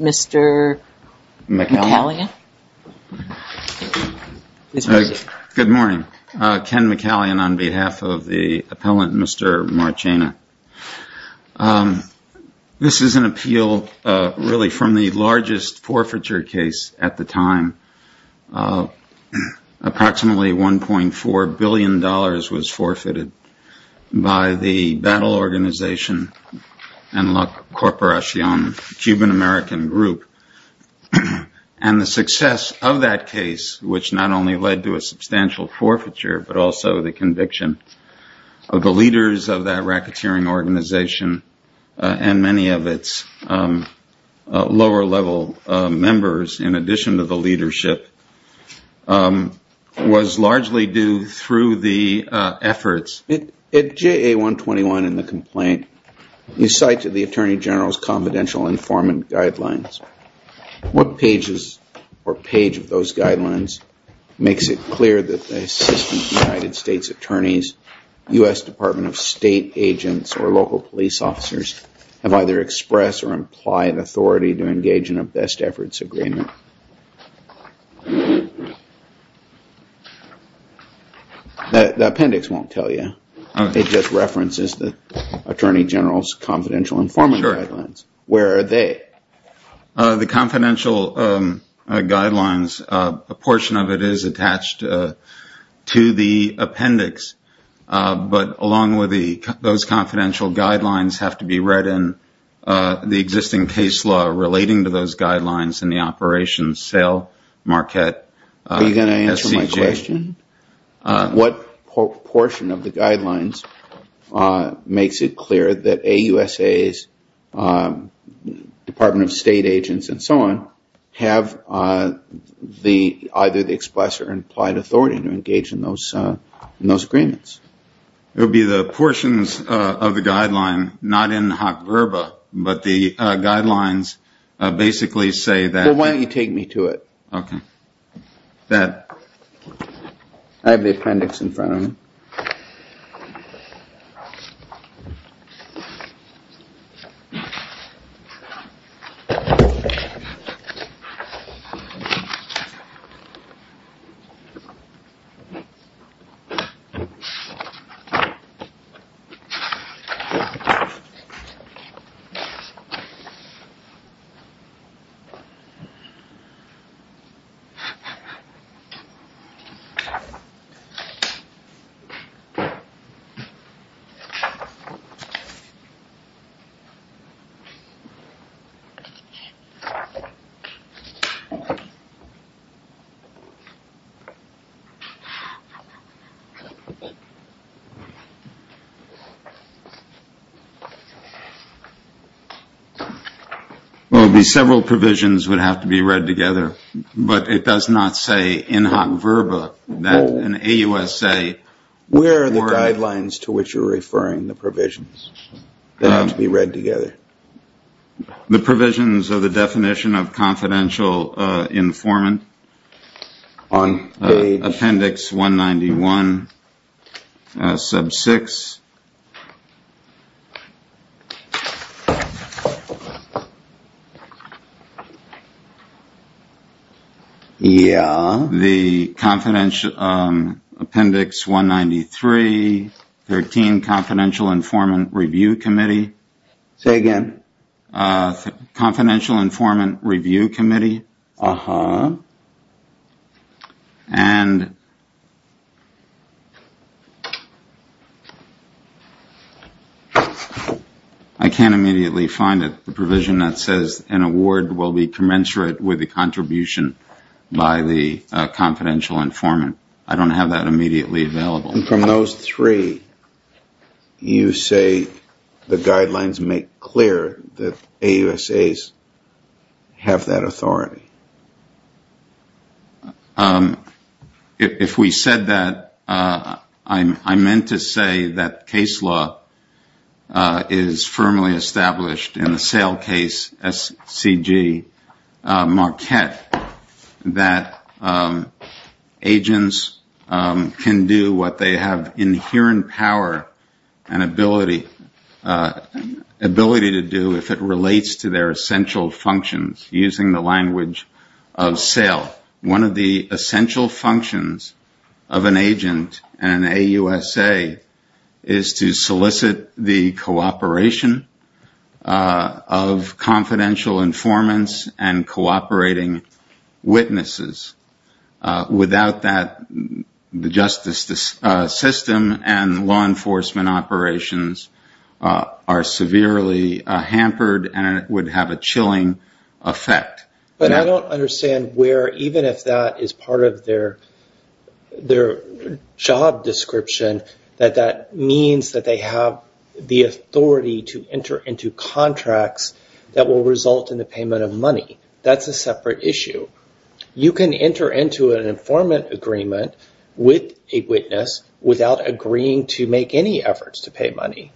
Mr. McCallion Good morning. Ken McCallion on behalf of the approximately $1.4 billion was forfeited by the battle organization Enlac Corporacion, Cuban-American group. And the success of that case, which not only led to a substantial forfeiture, but also the conviction of the leaders of that racketeering organization and many of its lower-level members, in addition to the leadership, was largely due through the efforts. At JA-121 in the complaint, you cite to the Attorney General's confidential informant guidelines. What pages or page of those guidelines makes it clear that the Assistant United States Attorneys, U.S. Department of State agents, or local police officers, have either expressed or implied authority to engage in a best efforts agreement? The appendix won't tell you. It just references the Attorney General's confidential informant guidelines. Where are they? The confidential guidelines, a portion of it is attached to the appendix, but along with those confidential guidelines have to be read in the existing case law relating to those guidelines and the operations, SAIL, Marquette, SCJ. Are you going to answer my question? What portion of the guidelines makes it clear that AUSA's Department of State agents and so on have either the express or implied authority to engage in those agreements? It would be the portions of the guideline, not in hot verba, but the guidelines basically say that... Well, several provisions would have to be read together, but it does not say in hot verba that an AUSA... The guidelines to which you're referring, the provisions, they have to be read together. The provisions of the definition of confidential informant, appendix 191, sub 6, the appendix 193, 13, confidential informant review committee. Say again? Confidential informant review committee. And I can't immediately find it, the provision that says an award will be commensurate with the contribution by the confidential informant. I don't have that immediately available. And from those three, you say the guidelines make clear that AUSA's have that authority? If we said that, I meant to say that case law is firmly established in the SAIL case SCG Marquette, that agents can do what they have inherent power and ability to do if it relates to their essential functions, using the language of SAIL. One of the essential functions of an agent in an AUSA is to solicit the cooperation of confidential informants and cooperating witnesses. Without that, the justice system and law enforcement operations are severely hampered and it would have a chilling effect. But I don't understand where, even if that is part of their job description, that that means that they have the authority to enter into contracts that will result in the payment of money. That's a separate issue. You can enter into an informant agreement with a witness without agreeing to make any efforts to pay money.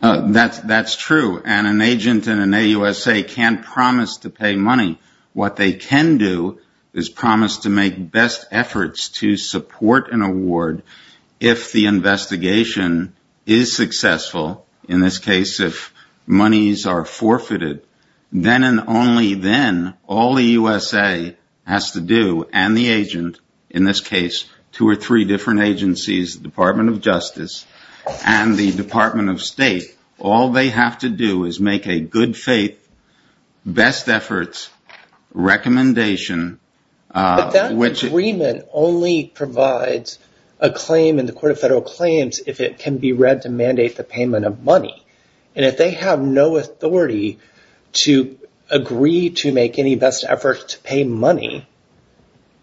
That's true. And an agent in an AUSA can't promise to pay money. What they can do is promise to make best efforts to support an award if the investigation is successful. In this case, if monies are forfeited, then and only then, all the USA has to do and the agent, in this case, two or three different agencies, the Department of Justice and the Department of State, all they have to do is make a good faith, best efforts recommendation. But that agreement only provides a claim in the Court of Federal Claims if it can be read to mandate the payment of money. And if they have no authority to agree to make any best efforts to pay money,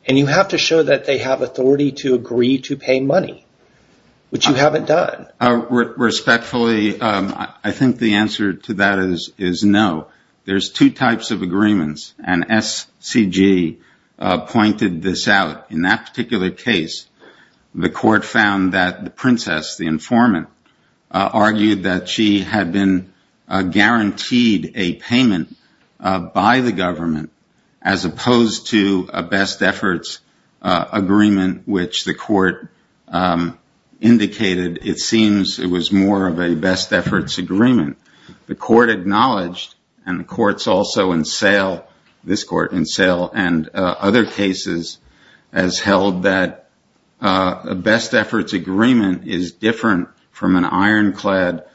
and you have to show that they have authority to agree to pay money, which you haven't done. Respectfully, I think the answer to that is no. There's two types of agreements, and SCG pointed this out. In that particular case, the court found that the princess, the informant, argued that she had been opposed to a best efforts agreement, which the court indicated it seems it was more of a best efforts agreement. The court acknowledged, and the court's also in sale, this court in sale, and other cases has held that a best efforts agreement is different from an ironclad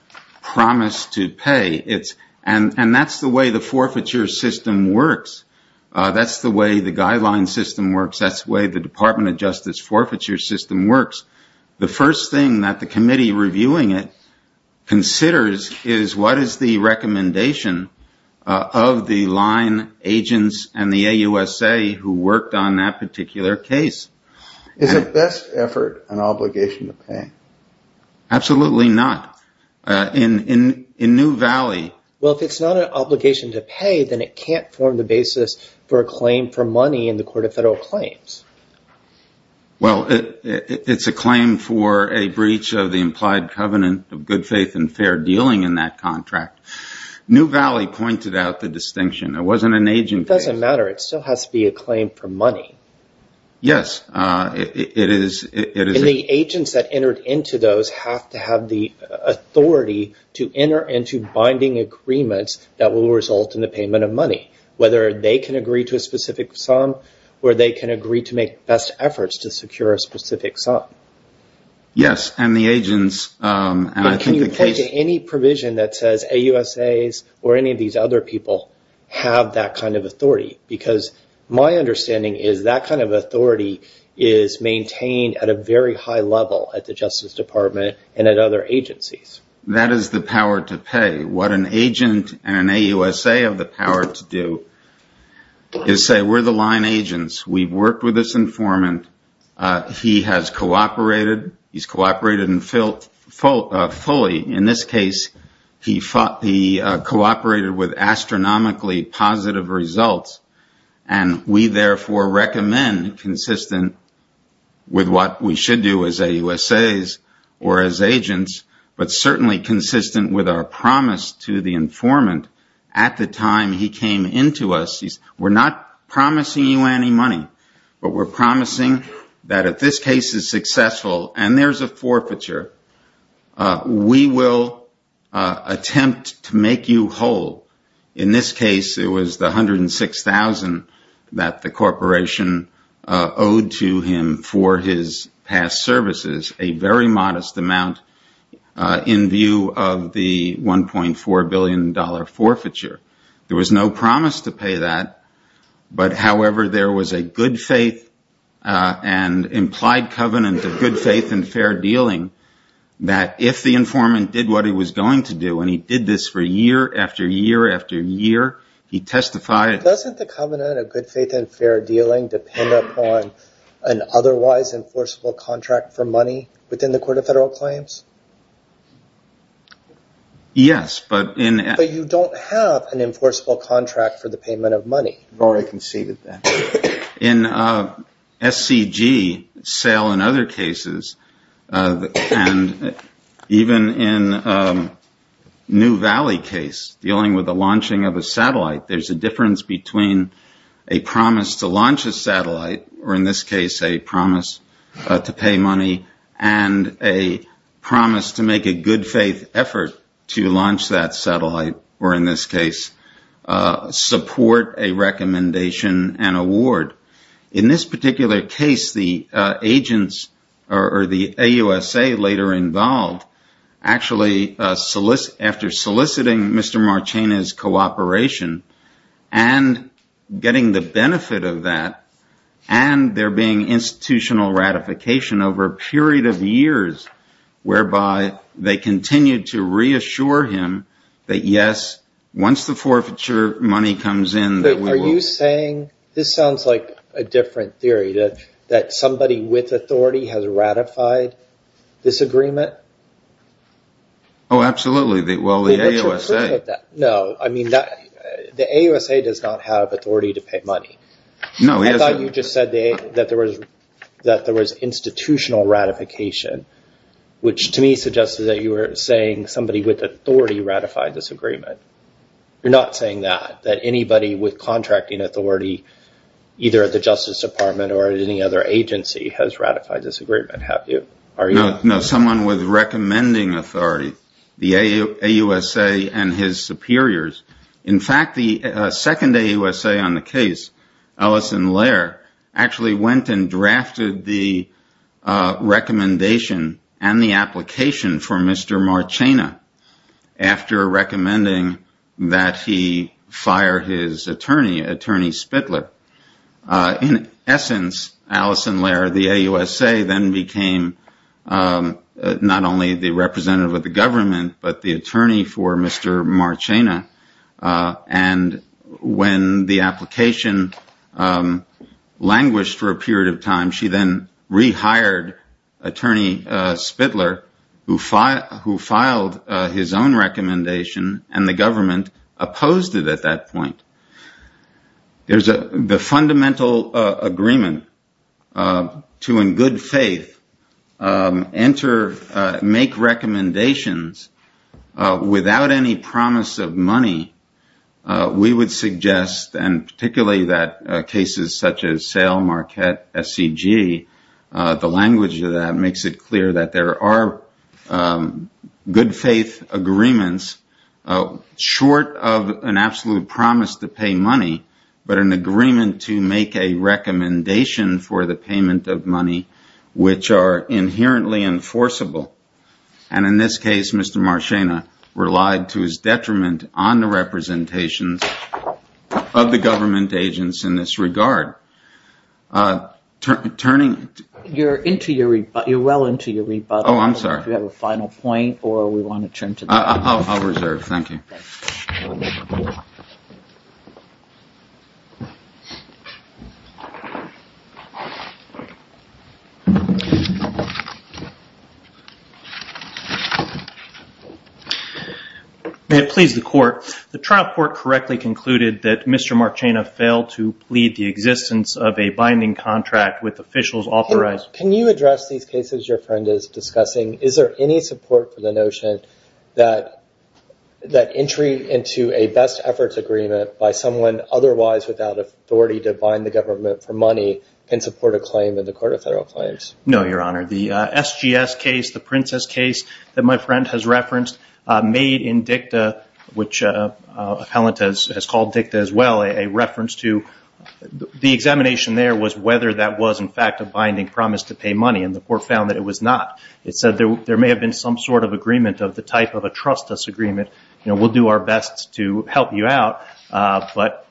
promise to pay. And that's the way the forfeiture system works. That's the way the guideline system works. That's the way the Department of Justice forfeiture system works. The first thing that the committee reviewing it considers is what is the recommendation of the line agents and the AUSA who worked on that particular case. Is a best effort an obligation to pay? Absolutely not. In New Valley... Well, if it's not an obligation to pay, then it can't form the basis for a claim for money in the Court of Federal Claims. Well, it's a claim for a breach of the implied covenant of good faith and fair dealing in that contract. New Valley pointed out the distinction. It wasn't an agent case. It doesn't matter. It still has to be a claim for money. Yes, it is. And the agents that entered into those have to have the authority to enter into binding agreements that will result in the payment of money. Whether they can agree to a specific sum or they can agree to make best efforts to secure a specific sum. Yes, and the agents... Can you point to any provision that says AUSAs or any of these other people have that kind of authority? Because my understanding is that kind of authority is maintained at a very high level at the Justice Department and at other agencies. That is the power to pay. What an agent and an AUSA have the power to do is say, we're the line agents. We've worked with this informant. He has cooperated. He's cooperated fully. In this case, he cooperated with astronomically positive results. And we therefore recommend consistent with what we should do as AUSAs or as agents, but certainly consistent with our promise to the informant at the time he came into us. We're not promising you any money. But we're promising that if this case is successful and there's a forfeiture, we will attempt to make you whole. In this case, it was the $106,000 that the corporation owed to him for his past services, a very modest amount in view of the $1.4 billion forfeiture. There was no promise to pay that. However, there was a good faith and implied covenant of good faith and fair dealing that if the informant did what he was going to do, and he did this for year after year after year, he testified. Doesn't the covenant of good faith and fair dealing depend upon an otherwise enforceable contract for money within the Court of Federal Claims? Yes. But you don't have an enforceable contract for the payment of money. We've already conceded that. In SCG sale and other cases, and even in New Valley case dealing with the launching of a satellite, there's a difference between a promise to launch a satellite, or in this case a promise to pay money, and a promise to make a good faith effort to launch that satellite, or in this case, support a recommendation and award. In this particular case, the agents, or the AUSA later involved, actually after soliciting Mr. Marchena's cooperation and getting the benefit of that, and there being institutional ratification over a period of years, whereby they continued to reassure him that yes, once the forfeiture money comes in... Are you saying, this sounds like a different theory, that somebody with authority has ratified this agreement? Oh, absolutely. Well, the AUSA... No, I mean, the AUSA does not have authority to pay money. I thought you just said that there was institutional ratification, which to me suggested that you were saying somebody with authority ratified this agreement. You're not saying that, that anybody with contracting authority, either at the Justice Department or at any other agency, has ratified this agreement, have you? No, someone with recommending authority, the AUSA and his superiors. In fact, the second AUSA on the case, Ellison Lair, actually went and drafted the recommendation and the application for Mr. Marchena, after recommending that he fire his attorney, Attorney Spitler. In essence, Ellison Lair, the AUSA, then became not only the representative of the government, but the attorney for Mr. Marchena. And when the application languished for a period of time, she then rehired Attorney Spitler, who filed his own recommendation, and the government opposed it at that point. There's the fundamental agreement to, in good faith, enter, make recommendations without any promise of money. We would suggest, and particularly that cases such as Sale, Marquette, SCG, the language of that makes it clear that there are good faith agreements short of an absolute promise to pay money, but an agreement to make a recommendation for the payment of money, which are inherently enforceable. And in this case, Mr. Marchena relied to his detriment on the representations of the government agents in this regard. You're well into your rebuttal. Oh, I'm sorry. If you have a final point, or we want to turn to the... I'll reserve. Thank you. May it please the court. The trial court correctly concluded that Mr. Marchena failed to plead the existence of a binding contract with officials authorized... Is there any support for the notion that entry into a best efforts agreement by someone otherwise without authority to bind the government for money can support a claim in the Court of Federal Claims? No, Your Honor. The SGS case, the Princess case that my friend has referenced, made in dicta, which appellant has called dicta as well, a reference to... The examination there was whether that was, in fact, a binding promise to pay money, and the court found that it was not. It said there may have been some sort of agreement of the type of a trustless agreement. We'll do our best to help you out, but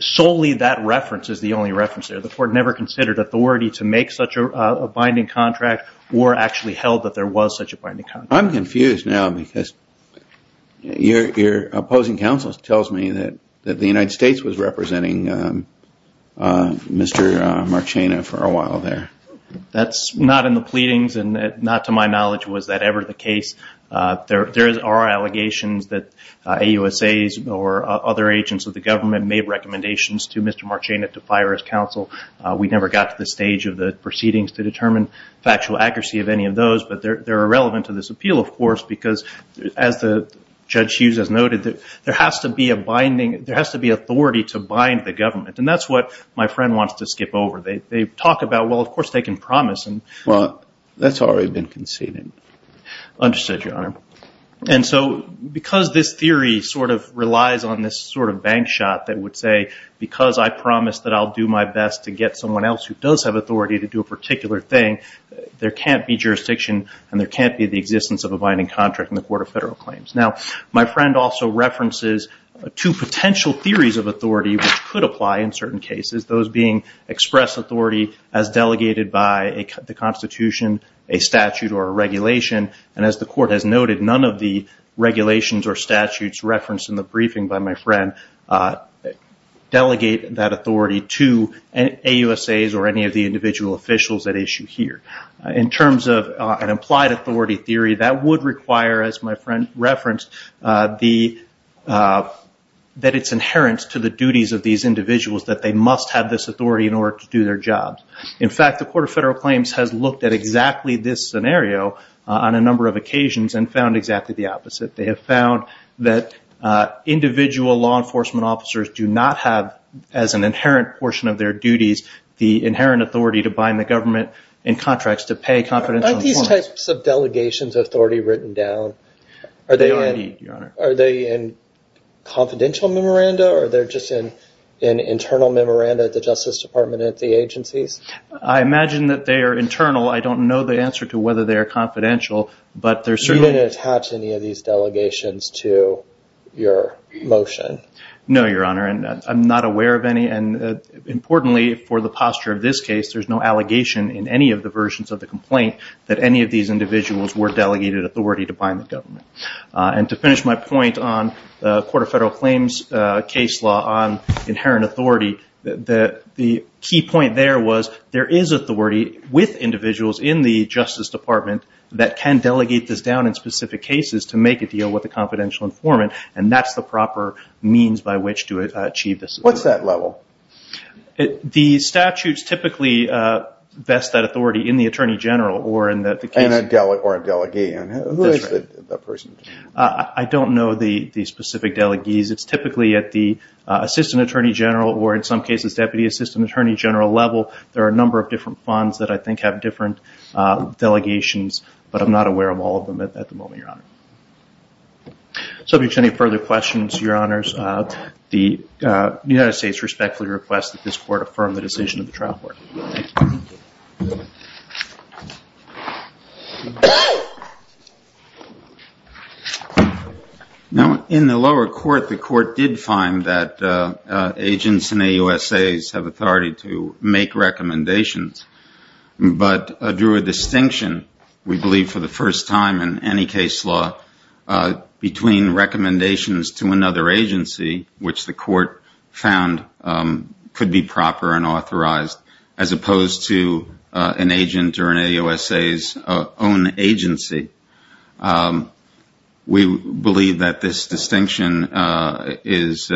solely that reference is the only reference there. The court never considered authority to make such a binding contract or actually held that there was such a binding contract. I'm confused now because your opposing counsel tells me that the United States was representing Mr. Marchena for a while there. That's not in the pleadings, and not to my knowledge was that ever the case. There are allegations that AUSAs or other agents of the government made recommendations to Mr. Marchena to fire his counsel. We never got to the stage of the proceedings to determine factual accuracy of any of those, but they're irrelevant to this appeal, of course, because as Judge Hughes has noted, there has to be authority to bind the government, and that's what my friend wants to skip over. They talk about, well, of course, they can promise. Well, that's already been conceded. Understood, Your Honor. And so because this theory sort of relies on this sort of bank shot that would say because I promise that I'll do my best to get someone else who does have authority to do a particular thing, there can't be jurisdiction and there can't be the existence of a binding contract in the Court of Federal Claims. Now, my friend also references two potential theories of authority which could apply in certain cases, those being express authority as delegated by the Constitution, a statute or a regulation, and as the Court has noted, none of the regulations or statutes referenced in the briefing by my friend delegate that authority to AUSAs or any of the individual officials at issue here. In terms of an implied authority theory, that would require, as my friend referenced, that it's inherent to the duties of these individuals that they must have this authority in order to do their jobs. In fact, the Court of Federal Claims has looked at exactly this scenario on a number of occasions and found exactly the opposite. They have found that individual law enforcement officers do not have, as an inherent portion of their duties, the inherent authority to bind the government in contracts to pay confidential... Aren't these types of delegations authority written down? They are, Your Honor. Are they in confidential memoranda or are they just in internal memoranda at the Justice Department and at the agencies? I imagine that they are internal. I don't know the answer to whether they are confidential. You didn't attach any of these delegations to your motion? No, Your Honor. I'm not aware of any. Importantly, for the posture of this case, there's no allegation in any of the versions of the complaint that any of these individuals were delegated authority to bind the government. And to finish my point on the Court of Federal Claims case law on inherent authority, the key point there was there is authority with individuals in the Justice Department that can delegate this down in specific cases to make a deal with a confidential informant. And that's the proper means by which to achieve this. What's that level? The statutes typically vest that authority in the Attorney General or in the case... Or a delegee. Who is the person? I don't know the specific delegees. It's typically at the Assistant Attorney General or in some cases Deputy Assistant Attorney General level. There are a number of different funds that I think have different delegations. But I'm not aware of all of them at the moment, Your Honor. So if there's any further questions, Your Honors, the United States respectfully requests that this Court affirm the decision of the trial court. Now, in the lower court, the court did find that agents in the USA have authority to make recommendations. But drew a distinction, we believe for the first time in any case law, between recommendations to another agency, which the court found could be proper and authorized to make recommendations as opposed to an agent or an AUSA's own agency. We believe that this distinction is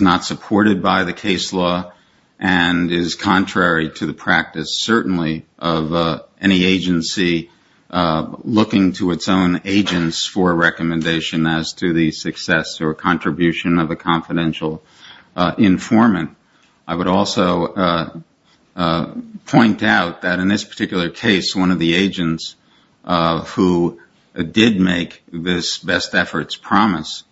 not supported by the case law and is contrary to the practice, certainly, of any agency looking to its own agents for a recommendation as to the success or contribution of a confidential informant. I would also point out that in this particular case, one of the agents who did make this best efforts promise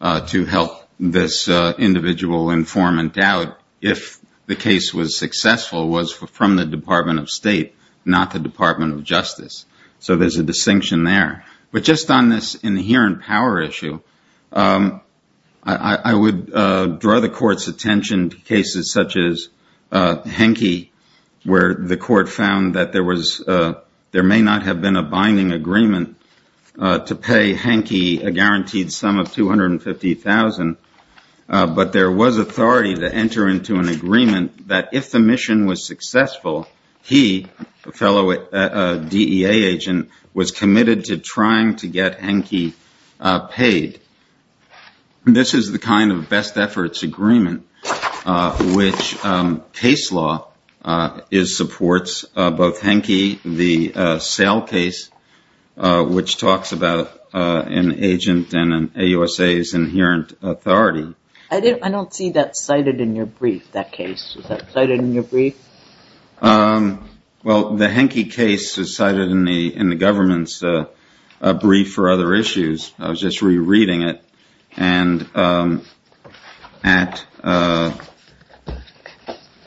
to help this individual informant out if the case was successful was from the Department of State, not the Department of Justice. So there's a distinction there. But just on this inherent power issue, I would draw the court's attention to cases such as Henke, where the court found that there may not have been a binding agreement to pay Henke a guaranteed sum of $250,000, but there was authority to enter into an agreement that if the mission was successful, he, a fellow DEA agent, was committed to trying to get Henke paid. This is the kind of best efforts agreement which case law supports both Henke, the sale case, which talks about an agent and an AUSA's inherent authority. I don't see that cited in your brief, that case. Well, the Henke case is cited in the government's brief for other issues. I was just rereading it and at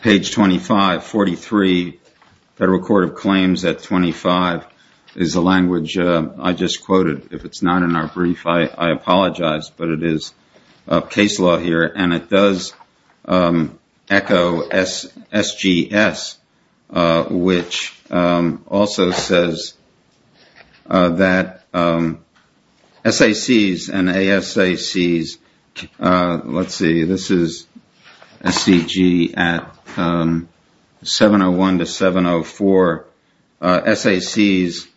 page 25, 43, Federal Court of Claims at 25 is the language I just quoted. If it's not in our brief, I apologize, but it is case law here and it does echo SGS which also says that SACs and ASACs let's see, this is SCG at 701 to 704 SACs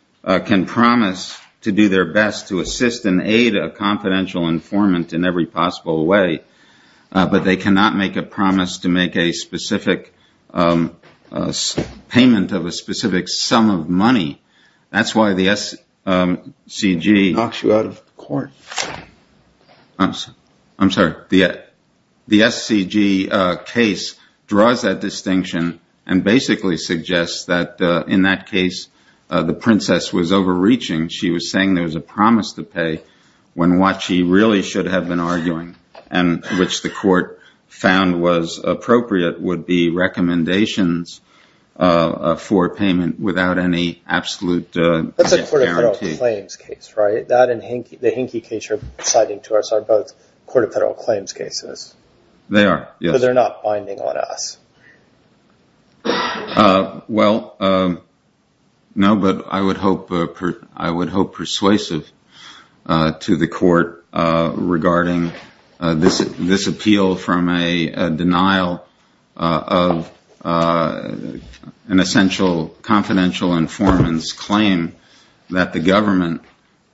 can promise to do their best to assist and aid a confidential informant in every possible way but they cannot make a promise to make a specific payment of a specific sum of money. That's why the SCG knocks you out of court. I'm sorry, the SCG case draws that distinction and basically suggests that in that case, the princess was overreaching. She was saying there was a promise to pay when what she really should have been arguing and which the court found was appropriate would be recommendations for payment without any absolute guarantee. That's a Court of Federal Claims case, right? That and the Henke case are both Court of Federal Claims cases. They are, yes. But they're not binding on us. No, but I would hope persuasive to the court regarding this appeal from a denial of an essential confidential informant's claim that the government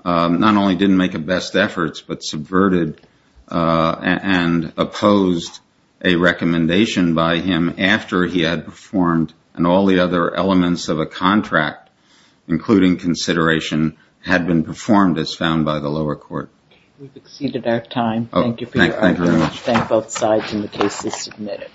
not only didn't make the best efforts but subverted and opposed a recommendation by him after he had performed and all the other elements of a contract including consideration had been performed as found by the lower court.